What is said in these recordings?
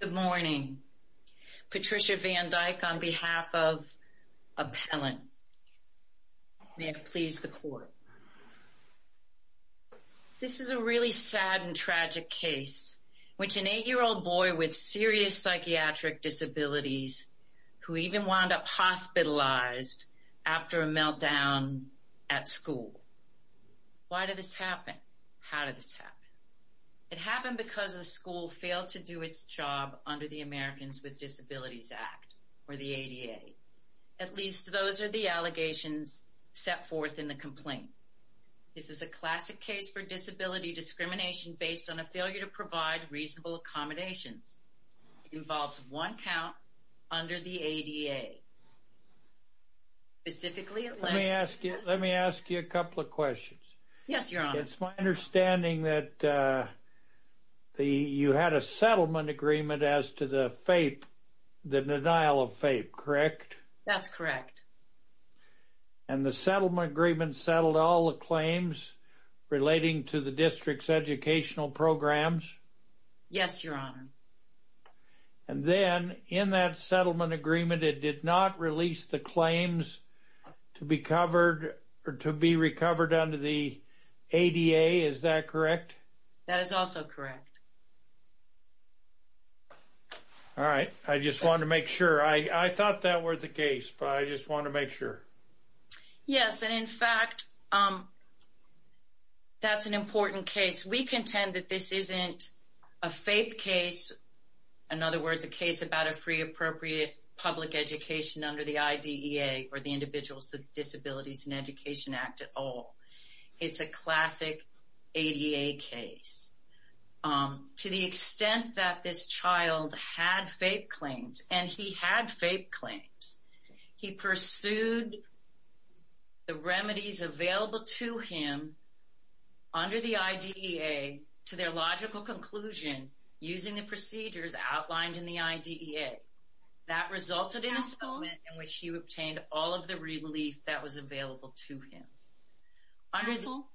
Good morning. Patricia Van Dyke on behalf of Appellant. May it please the Court. This is a really sad and tragic case in which an 8-year-old boy with serious psychiatric disabilities who even wound up hospitalized after a meltdown at school. Why did this happen? It happened because the school failed to do its job under the Americans with Disabilities Act, or the ADA. At least, those are the allegations set forth in the complaint. This is a classic case for disability discrimination based on a failure to provide reasonable accommodations. It involves one count under the ADA. Specifically, it led to... My understanding is that you had a settlement agreement as to the denial of FAPE, correct? That's correct. And the settlement agreement settled all the claims relating to the district's educational programs? Yes, Your Honor. And then, in that settlement agreement, it did not release the claims to be recovered under the ADA. Is that correct? That is also correct. All right. I just wanted to make sure. I thought that were the case, but I just wanted to make sure. Yes, and in fact, that's an important case. We contend that this isn't a FAPE case. In other words, a case about a free, appropriate public education under the IDEA, or the Individuals with Disabilities in Education Act at all. It's a classic ADA case. To the extent that this child had FAPE claims, and he had FAPE claims, he pursued the remedies available to him under the IDEA to their logical conclusion using the procedures outlined in the IDEA. That resulted in a settlement in which he obtained all of the relief that was available to him. Counsel?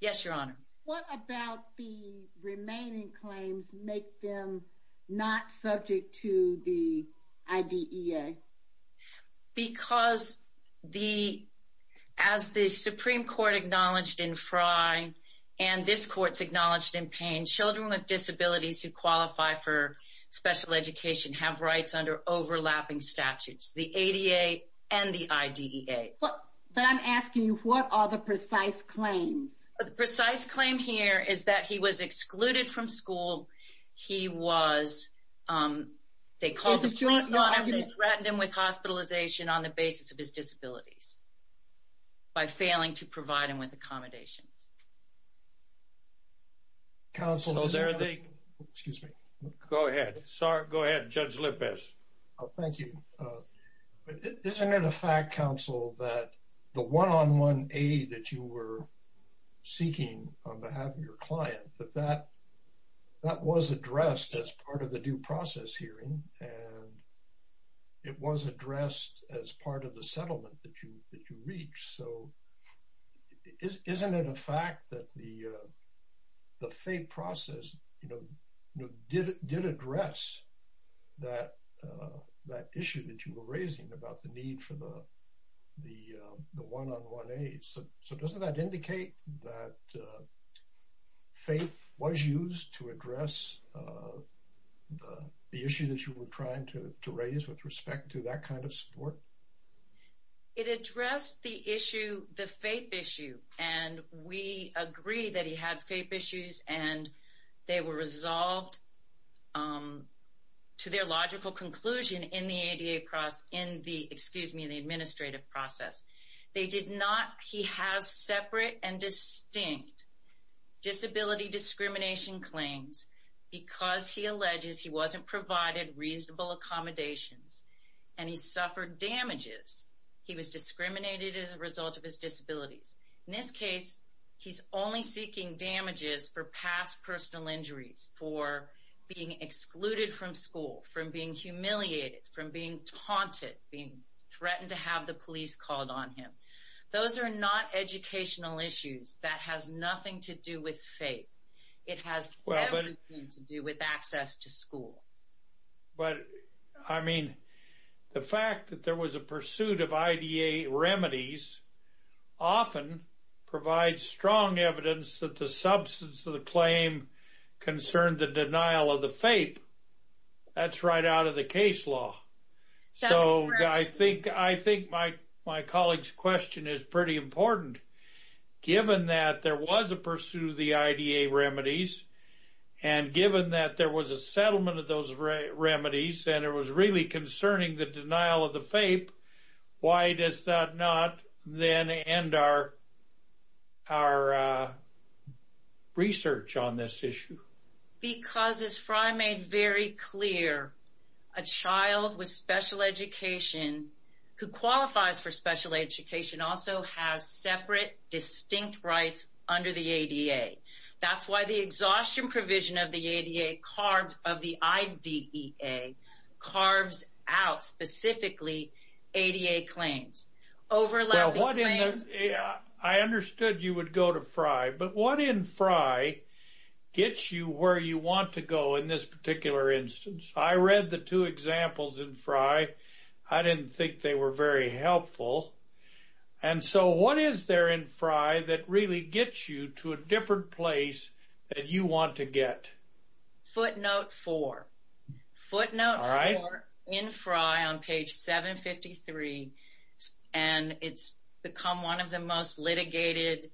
Yes, Your Honor. What about the remaining claims make them not subject to the IDEA? Because as the Supreme Court acknowledged in Frye, and this Court's acknowledged in Friye, they have rights under overlapping statutes, the ADA and the IDEA. But I'm asking you, what are the precise claims? The precise claim here is that he was excluded from school. He was, they called him, threatened him with hospitalization on the basis of his disabilities by failing to provide him with accommodations. Counsel? Excuse me. Go ahead. Judge Lippes. Thank you. Isn't it a fact, Counsel, that the one-on-one aid that you were seeking on behalf of your client, that that was addressed as part of the due process hearing, and it was addressed as part of the settlement that you reached? So, isn't it a fact that the one-on-one aid process, you know, did address that issue that you were raising about the need for the one-on-one aid? So, doesn't that indicate that FAPE was used to address the issue that you were trying to raise with respect to that kind of support? It addressed the issue, the FAPE issue, and we agree that he had FAPE issues and they were resolved to their logical conclusion in the ADA process, in the, excuse me, in the administrative process. They did not, he has separate and distinct disability discrimination claims because he alleges he wasn't provided reasonable accommodations and he suffered damages. He was discriminated as a result of his disabilities. In this case, he's only seeking damages for past personal injuries, for being excluded from school, from being humiliated, from being taunted, being threatened to have the police called on him. Those are not educational issues that has nothing to do with FAPE. It has everything to do with access to school. But I mean, the fact that there was a pursuit of IDA remedies often provides strong evidence that the substance of the claim concerned the denial of the FAPE. That's right out of the case law. That's correct. I think my colleague's question is pretty important. Given that there was a pursuit of the IDA remedies and given that there was a settlement of those remedies and it was really concerning the denial of the FAPE, why does that not then end our research on this issue? Because as Fry made very clear, a child with special education who qualifies for special education also has separate, distinct rights under the ADA. That's why the exhaustion provision of the ADA, of the IDEA, carves out specifically ADA claims, overlapping claims. I understood you would go to Fry, but what in Fry gets you where you want to go in this particular instance? I read the two examples in Fry. I didn't think they were very helpful. And so what is there in Fry that really gets you to a different place that you want to get? Footnote four. Footnote four in Fry on page 753. And it's become one of the most litigated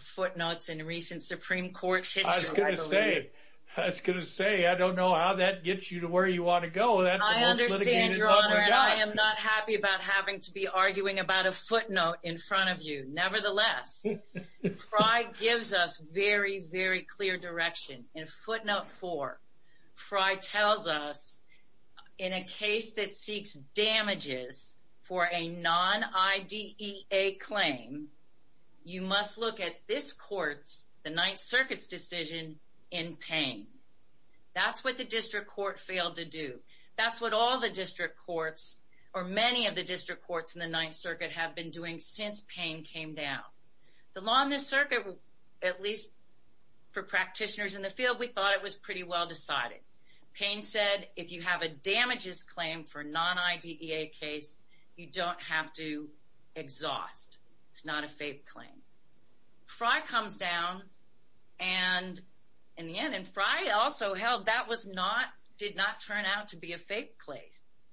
footnotes in recent Supreme Court history, I believe. I was going to say, I don't know how that gets you to where you want to go. I understand, Your Honor, and I am not happy about having to be arguing about a footnote in front of you. Nevertheless, Fry gives us very, very clear direction. In footnote four, Fry tells us in a case that seeks damages for a non-IDEA claim, you must look at this court's, the Ninth Circuit's decision in pain. That's what the District Court failed to do. That's what all the District Courts, or many of the District Courts in the Ninth Circuit have been doing since Payne came down. The law in this circuit, at least for practitioners in the field, we thought it was pretty well decided. Payne said, if you have a damages claim for a non-IDEA case, you don't have to exhaust. It's not a fake claim. Fry comes down and in the end, and Fry also held that was not, did not turn out to be a fake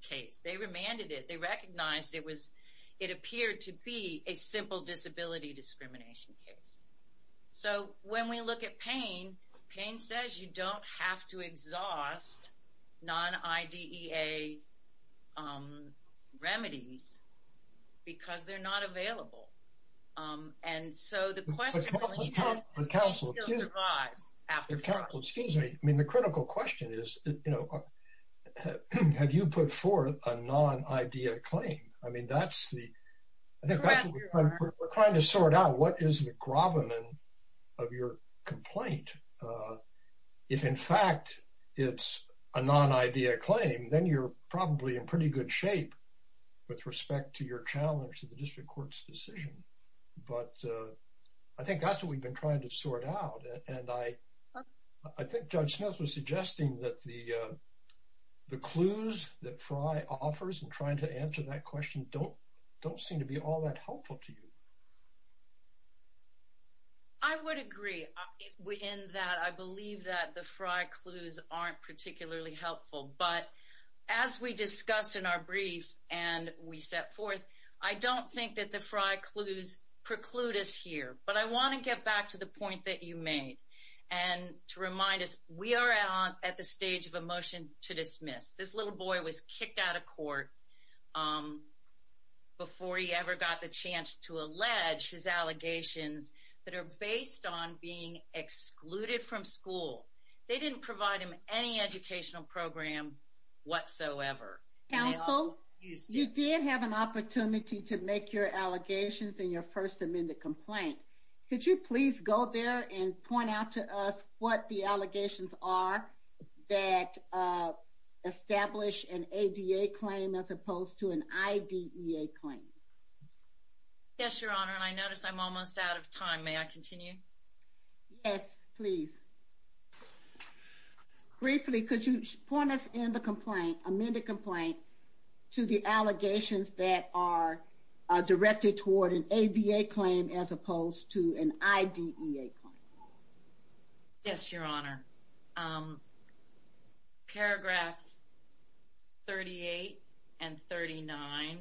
case. They remanded it. They recognized it was, it appeared to be a simple disability discrimination case. So when we look at Payne, Payne says, you don't have to exhaust non-IDEA remedies because they're not available. And so the question... The counsel, excuse me, I mean, the critical question is, you know, have you put forth a non-IDEA claim? I mean, that's the, I think that's what we're trying to sort out. What is the grommet of your complaint? If in fact, it's a non-IDEA claim, then you're probably in pretty good shape with respect to your challenge to the District Court's decision. But I think that's what we've been trying to sort out. And I think Judge Smith was suggesting that the clues that Fry offers and trying to answer that question don't seem to be all that helpful to you. I would agree in that I believe that the Fry clues aren't particularly helpful. But as we discussed in our brief and we set forth, I don't think that the Fry clues preclude us here. But I want to get back to the point that you made and to remind us, we are at the stage of a motion to dismiss. This little boy was kicked out of court before he ever got the chance to allege his allegations that are based on being excluded from school. They didn't provide him any educational program whatsoever. Counsel, you did have an opportunity to make your allegations in your First Amendment complaint. Could you please go there and point out to us what the allegations are that establish an ADA claim as opposed to an IDEA claim? Yes, Your Honor. And I notice I'm almost out of time. May I continue? Yes, please. Briefly, could you point us in the complaint, amended complaint, to the an IDEA claim? Yes, Your Honor. Paragraph 38 and 39.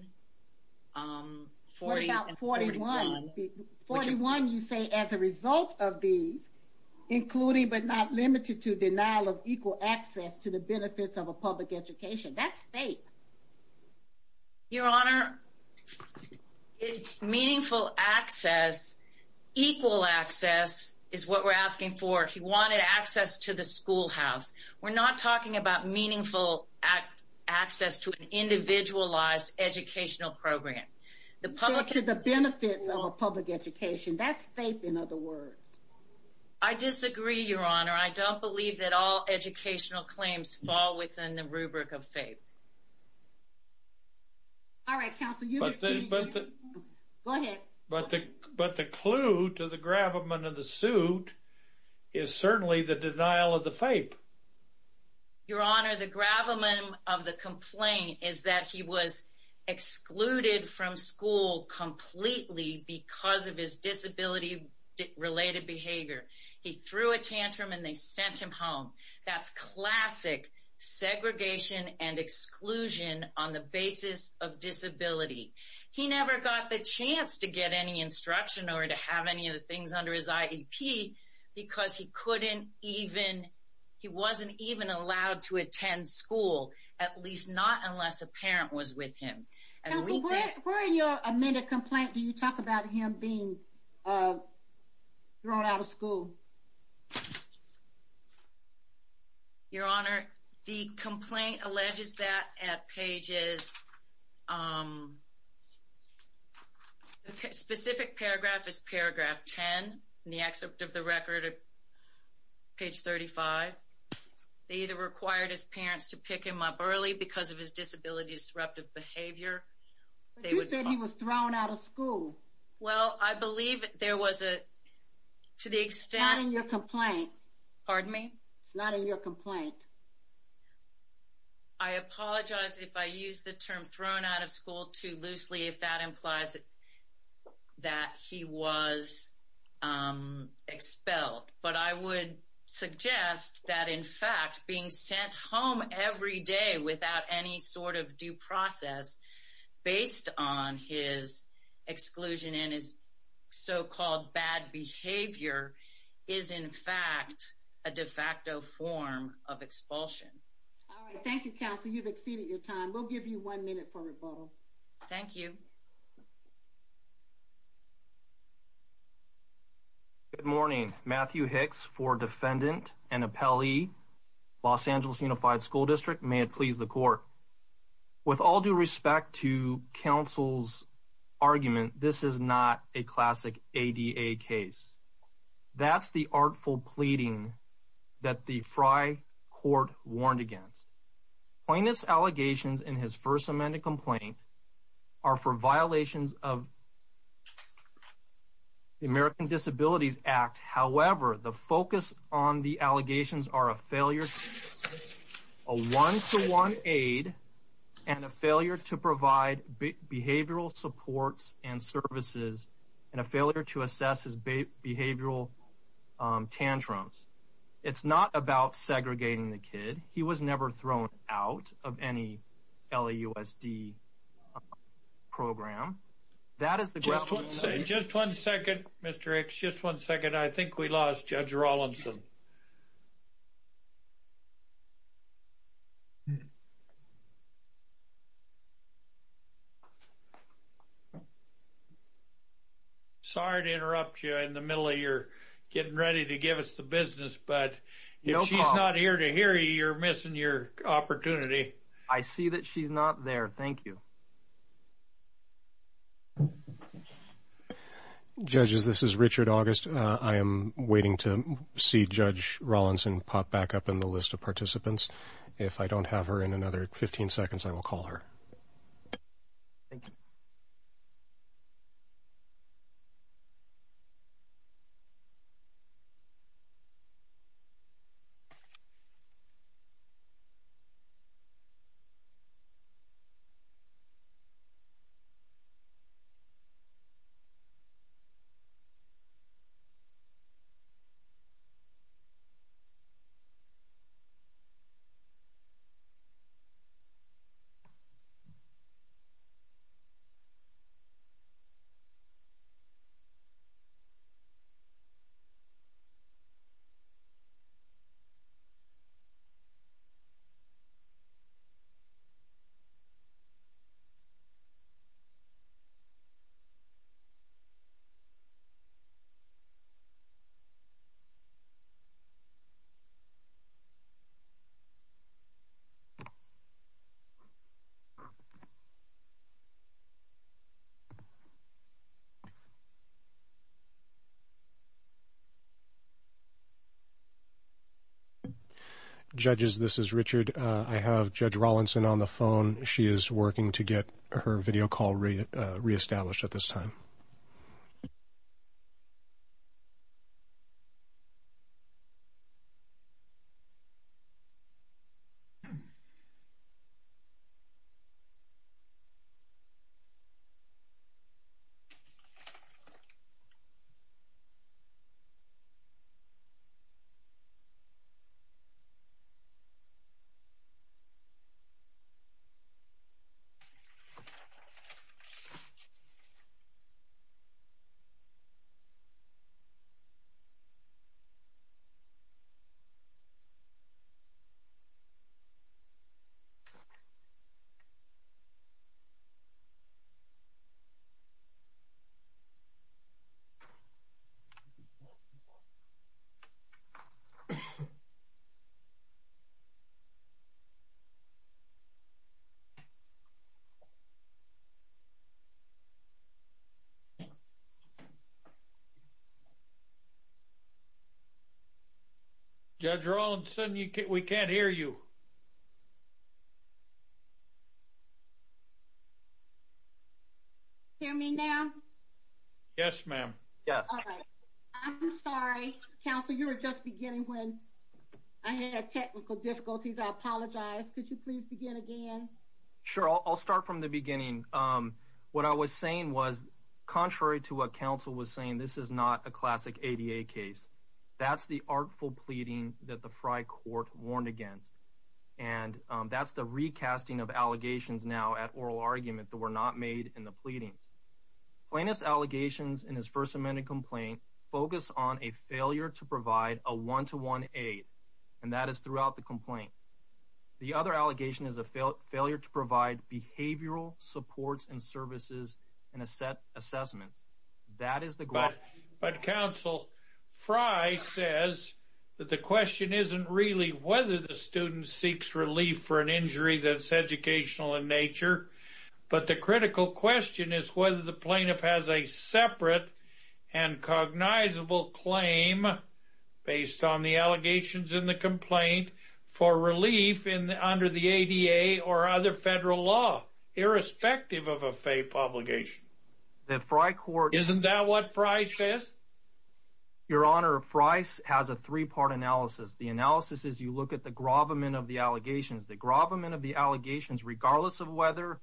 What about 41? 41, you say, as a result of these, including but not limited to denial of equal access to the benefits of a public education. That's fake. Your Honor, it's meaningful access. Equal access is what we're asking for. He wanted access to the schoolhouse. We're not talking about meaningful access to an individualized educational program. The public... To the benefits of a public education. That's fake, in other words. I disagree, Your Honor. I don't believe that all educational claims fall within the rubric of fake. All right, Counsel, you can continue. Go ahead. But the clue to the gravamen of the suit is certainly the denial of the fake. Your Honor, the gravamen of the complaint is that he was excluded from school completely because of his disability-related behavior. He threw a tantrum and they sent him home. That's classic segregation and exclusion on the basis of disability. He never got the chance to get any instruction or to have any of the things under his IEP because he wasn't even allowed to attend school, at least not unless a parent was with him. Counsel, where in your amended complaint do you talk about him being thrown out of school? Your Honor, the complaint alleges that at pages... Specific paragraph is paragraph 10 in the excerpt of the record at page 35. They either required his parents to pick him up early because of his disability-disruptive behavior. But you said he was thrown out of school. Well, I believe there was a... To the extent... Not in your complaint. Pardon me? It's not in your complaint. I apologize if I use the term thrown out of school too loosely, if that implies that he was expelled. But I would suggest that, in fact, being sent home every day without any sort of due process based on his exclusion and his so-called bad behavior is, in fact, a de facto form of expulsion. All right. Thank you, Counsel. You've exceeded your time. We'll give you one minute for rebuttal. Thank you. Good morning. Matthew Hicks for Defendant and Appellee, Los Angeles Unified School District. May it please the Court. With all due respect to Counsel's argument, this is not a classic ADA case. That's the artful pleading that the Frey Court warned against. Plaintiff's allegations in his first amended complaint are for violations of the American Disabilities Act. However, the focus on the allegations are a failure to assess a one-to-one aid, and a failure to provide behavioral supports and services, and a failure to assess his behavioral tantrums. It's not about segregating the kid. He was never thrown out of any LAUSD program. Just one second, Mr. Hicks. Just one second. I think we lost Judge Rawlinson. Sorry to interrupt you in the middle of your getting ready to give us the business, but if she's not here to hear you, you're missing your opportunity. I see that she's not there. Thank you. Judges, this is Richard August. I am waiting to see Judge Rawlinson pop back up in the list of participants. If I don't have her in another 15 seconds, I will call her. Thank you. Judges, this is Richard. I have Judge Rawlinson on the phone. She is working to get her video call reestablished at this time. Judge Rawlinson, we can't hear you. Can you hear me now? Yes, ma'am. Yes. I'm sorry, counsel. You were just beginning when I had technical difficulties. I apologize. Could you please begin again? Sure, I'll start from the beginning. What I was saying was, contrary to what counsel was saying, this is not a classic ADA case. That's the artful pleading that the Fry Court warned against, and that's the recasting of allegations now at oral argument that were not made in the pleadings. Plaintiff's allegations in his first amended complaint focus on a failure to provide a one-to-one aid, and that is throughout the complaint. The other allegation is a failure to provide behavioral supports and services in assessments. That is the goal. But, counsel, Fry says that the question isn't really whether the student seeks relief for an injury that's educational in nature, but the critical question is whether the plaintiff has a separate and cognizable claim, based on the allegations in the complaint, for relief under the ADA or other federal law, irrespective of a FAPE obligation. The Fry Court... Isn't that what Fry says? Your Honor, Fry has a three-part analysis. The analysis is you look at the grovement of the allegations. The grovement of the allegations, regardless of whether,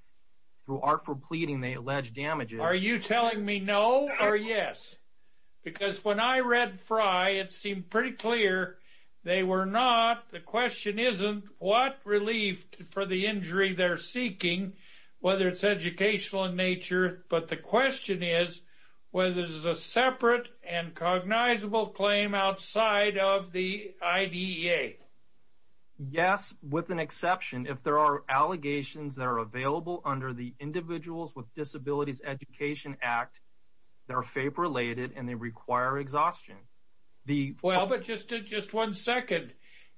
through artful pleading, they allege damages... Are you telling me no or yes? Because when I read Fry, it seemed pretty clear they were not. The question isn't what relief for the injury they're seeking, whether it's educational in nature, but the question is whether there's a separate and cognizable claim outside of the IDEA. Yes, with an exception. If there are allegations that are available under the Individuals with Disabilities Education Act that are FAPE-related and they require exhaustion, the... Well, but just one second.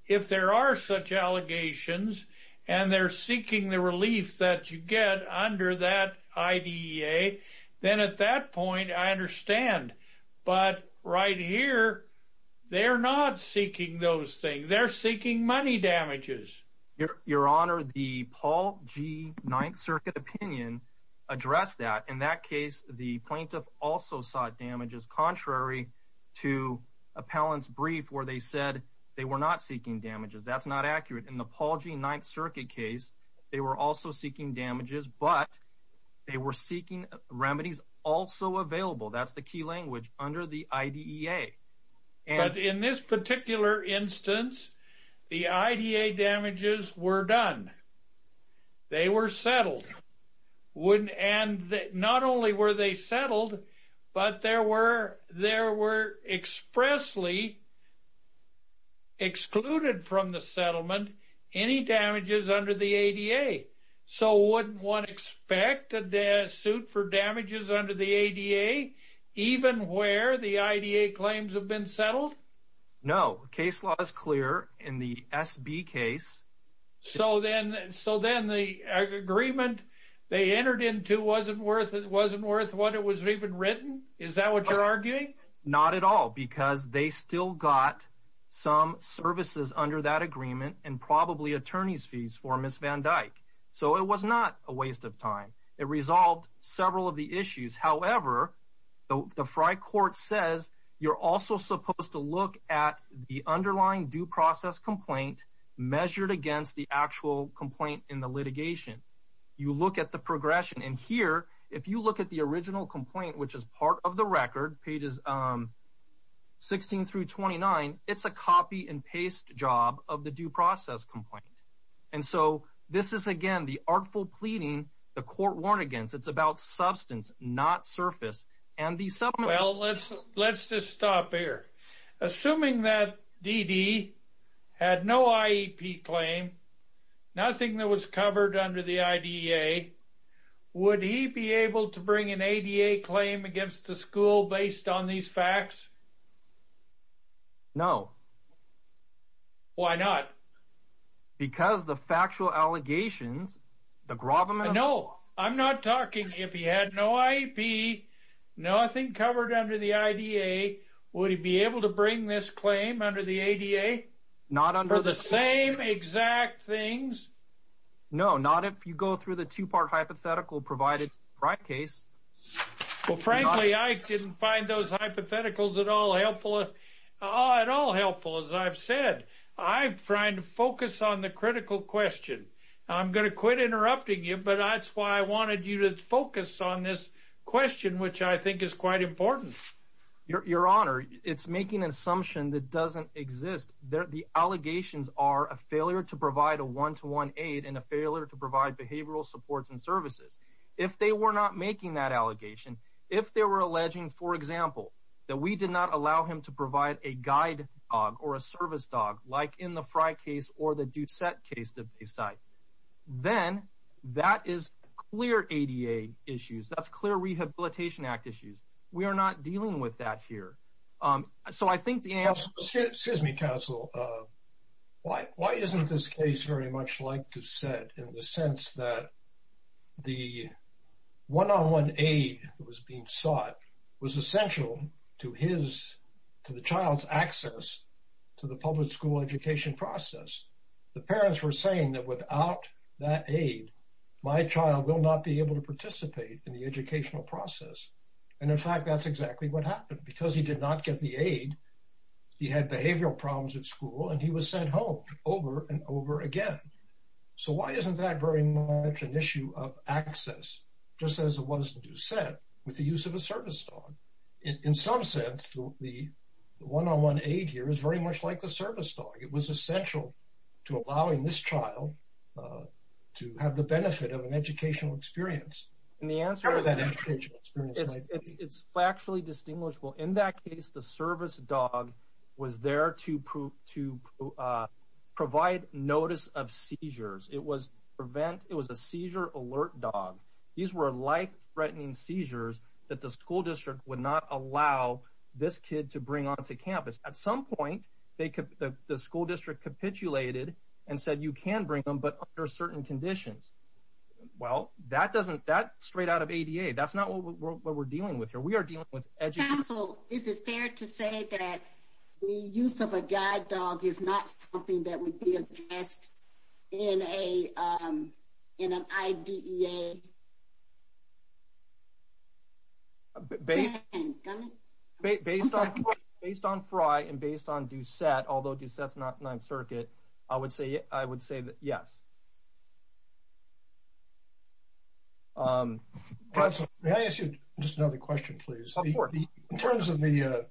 If there are such allegations and they're seeking the relief that you get under that IDEA, then at that point, I understand. But right here, they're not seeking those things. They're seeking money damages. Your Honor, the Paul G. 9th Circuit opinion addressed that. In that case, the plaintiff also sought damages contrary to appellant's brief where they said they were not seeking damages. That's not accurate. In the Paul G. 9th Circuit case, they were also seeking damages, but they were seeking remedies also available. That's the key language, under the IDEA. But in this particular instance, the IDEA damages were done. They were settled. And not only were they settled, but there were expressly excluded from the settlement any damages under the ADA. So wouldn't one expect a suit for damages under the ADA, even where the IDEA claims have been settled? No. Case law is clear in the SB case. So then the agreement they entered into wasn't worth what it was even written? Is that what you're arguing? Not at all, because they still got some services under that agreement, and probably attorney's fees for Ms. Van Dyke. So it was not a waste of time. It resolved several of the issues. However, the Fry Court says you're also supposed to look at the underlying due process complaint measured against the actual complaint in the litigation. You look at the progression. And here, if you look at the original complaint, which is part of the record, pages 16 through 29, it's a copy and paste job of the due process complaint. And so this is, again, the artful pleading the court warned against. It's about substance, not surface. Well, let's just stop here. Assuming that D.D. had no IEP claim, nothing that was covered under the IDEA, would he be able to bring an ADA claim against the school based on these facts? No. Why not? Because the factual allegations, the Grobman... I'm not talking if he had no IEP, nothing covered under the IDEA, would he be able to bring this claim under the ADA for the same exact things? No, not if you go through the two-part hypothetical provided in the Fry case. Well, frankly, I didn't find those hypotheticals at all helpful, as I've said. I'm trying to focus on the critical question. I'm going to quit interrupting you, but that's why I wanted you to focus on this question, which I think is quite important. Your Honor, it's making an assumption that doesn't exist. The allegations are a failure to provide a one-to-one aid and a failure to provide behavioral supports and services. If they were not making that allegation, if they were alleging, for example, that we did not allow him to provide a guide dog or a service dog like in the Fry case or the Doucette case that they cite, then that is clear ADA issues. That's clear Rehabilitation Act issues. We are not dealing with that here. So I think the answer... Excuse me, counsel. Why isn't this case very much like to set in the sense that the one-on-one aid that was being sought was essential to the child's access to the public school education process? The parents were saying that without that aid, my child will not be able to participate in the educational process. And in fact, that's exactly what happened. Because he did not get the aid, he had behavioral problems at school, and he was sent home over and over again. So why isn't that very much an issue of access, just as it was in Doucette with the use of a service dog? In some sense, the one-on-one aid here is very much like the service dog. It was essential to allowing this child to have the benefit of an educational experience. It's factually distinguishable. In that case, the service dog was there to provide notice of seizures. It was a seizure alert dog. These were life-threatening seizures that the school district would not allow this kid to bring onto campus. At some point, the school district capitulated and said, you can bring them, but under certain conditions. Well, that's straight out of ADA. That's not what we're dealing with here. We are dealing with education. Counsel, is it fair to say that the use of a guide dog is not something that would be addressed in an IDEA? Based on Frye and based on Doucette, although Doucette's not Ninth Circuit, I would say that yes. Counsel, may I ask you just another question, please? Of course. In terms of the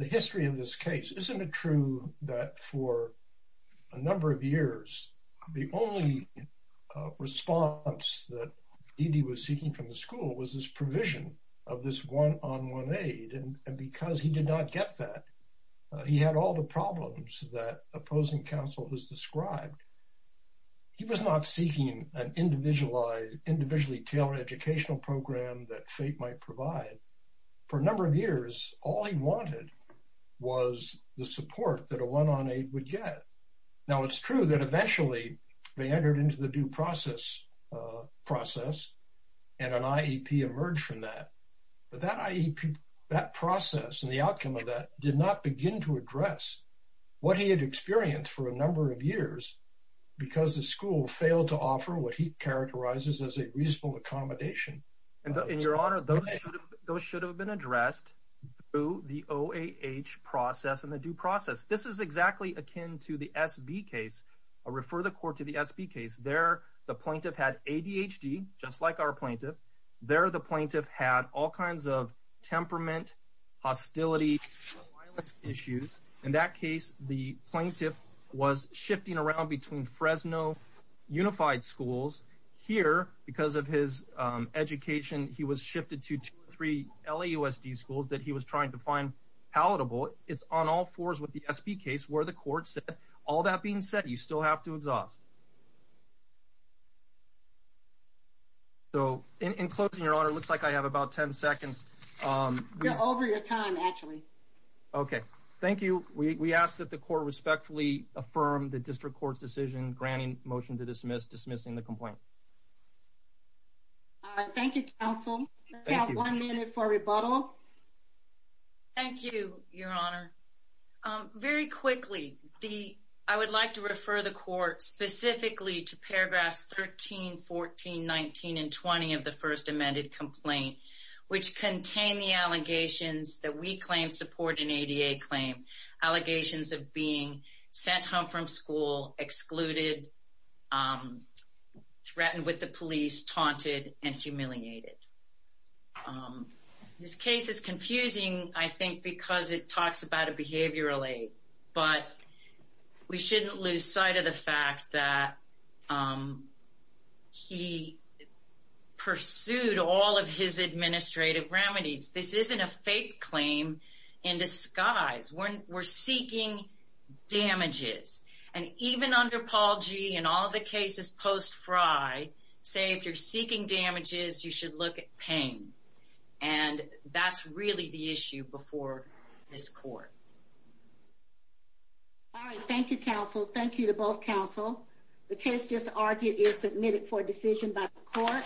history of this case, isn't it true that for a number of years, the only response that ED was seeking from the school was this provision of this one-on-one aid? And because he did not get that, he had all the problems that opposing counsel has described. He was not seeking an individually-tailored educational program that fate might provide. For a number of years, all he wanted was the support that a one-on-aid would get. Now, it's true that eventually they entered into the due process and an IEP emerged from that. But that IEP, that process and the outcome of that did not begin to address what he had experienced for a number of years because the school failed to offer what he characterizes as a reasonable accommodation. In your honor, those should have been addressed through the OAH process and the due process. This is exactly akin to the SB case. I'll refer the court to the SB case. There, the plaintiff had ADHD, just like our plaintiff. There, the plaintiff had all kinds of temperament, hostility, violence issues. In that case, the plaintiff was shifting around between Fresno Unified Schools. Here, because of his education, he was shifted to two or three LAUSD schools that he was trying to find palatable. It's on all fours with the SB case where the court said, all that being said, you still have to exhaust. So, in closing, your honor, it looks like I have about 10 seconds. You're over your time, actually. Okay, thank you. We ask that the court respectfully affirm the district court's decision, granting motion to dismiss, dismissing the complaint. Let's have one minute for rebuttal. Thank you, your honor. Very quickly, I would like to refer the court specifically to paragraphs 13, 14, 19, and 20 of the first amended complaint, which contain the allegations that we claim support an ADA claim, allegations of being sent home from school, excluded, threatened with the police, taunted, and humiliated. This case is confusing, I think, because it talks about a behavioral aid, but we shouldn't lose sight of the fact that he pursued all of his administrative remedies. This isn't a fake claim in disguise. We're seeking damages, and even under Paul G. and all the cases post Frye, say if you're seeking damages, you should look at pain, and that's really the issue before this court. All right, thank you, counsel. Thank you to both counsel. The case just argued is submitted for decision by the court.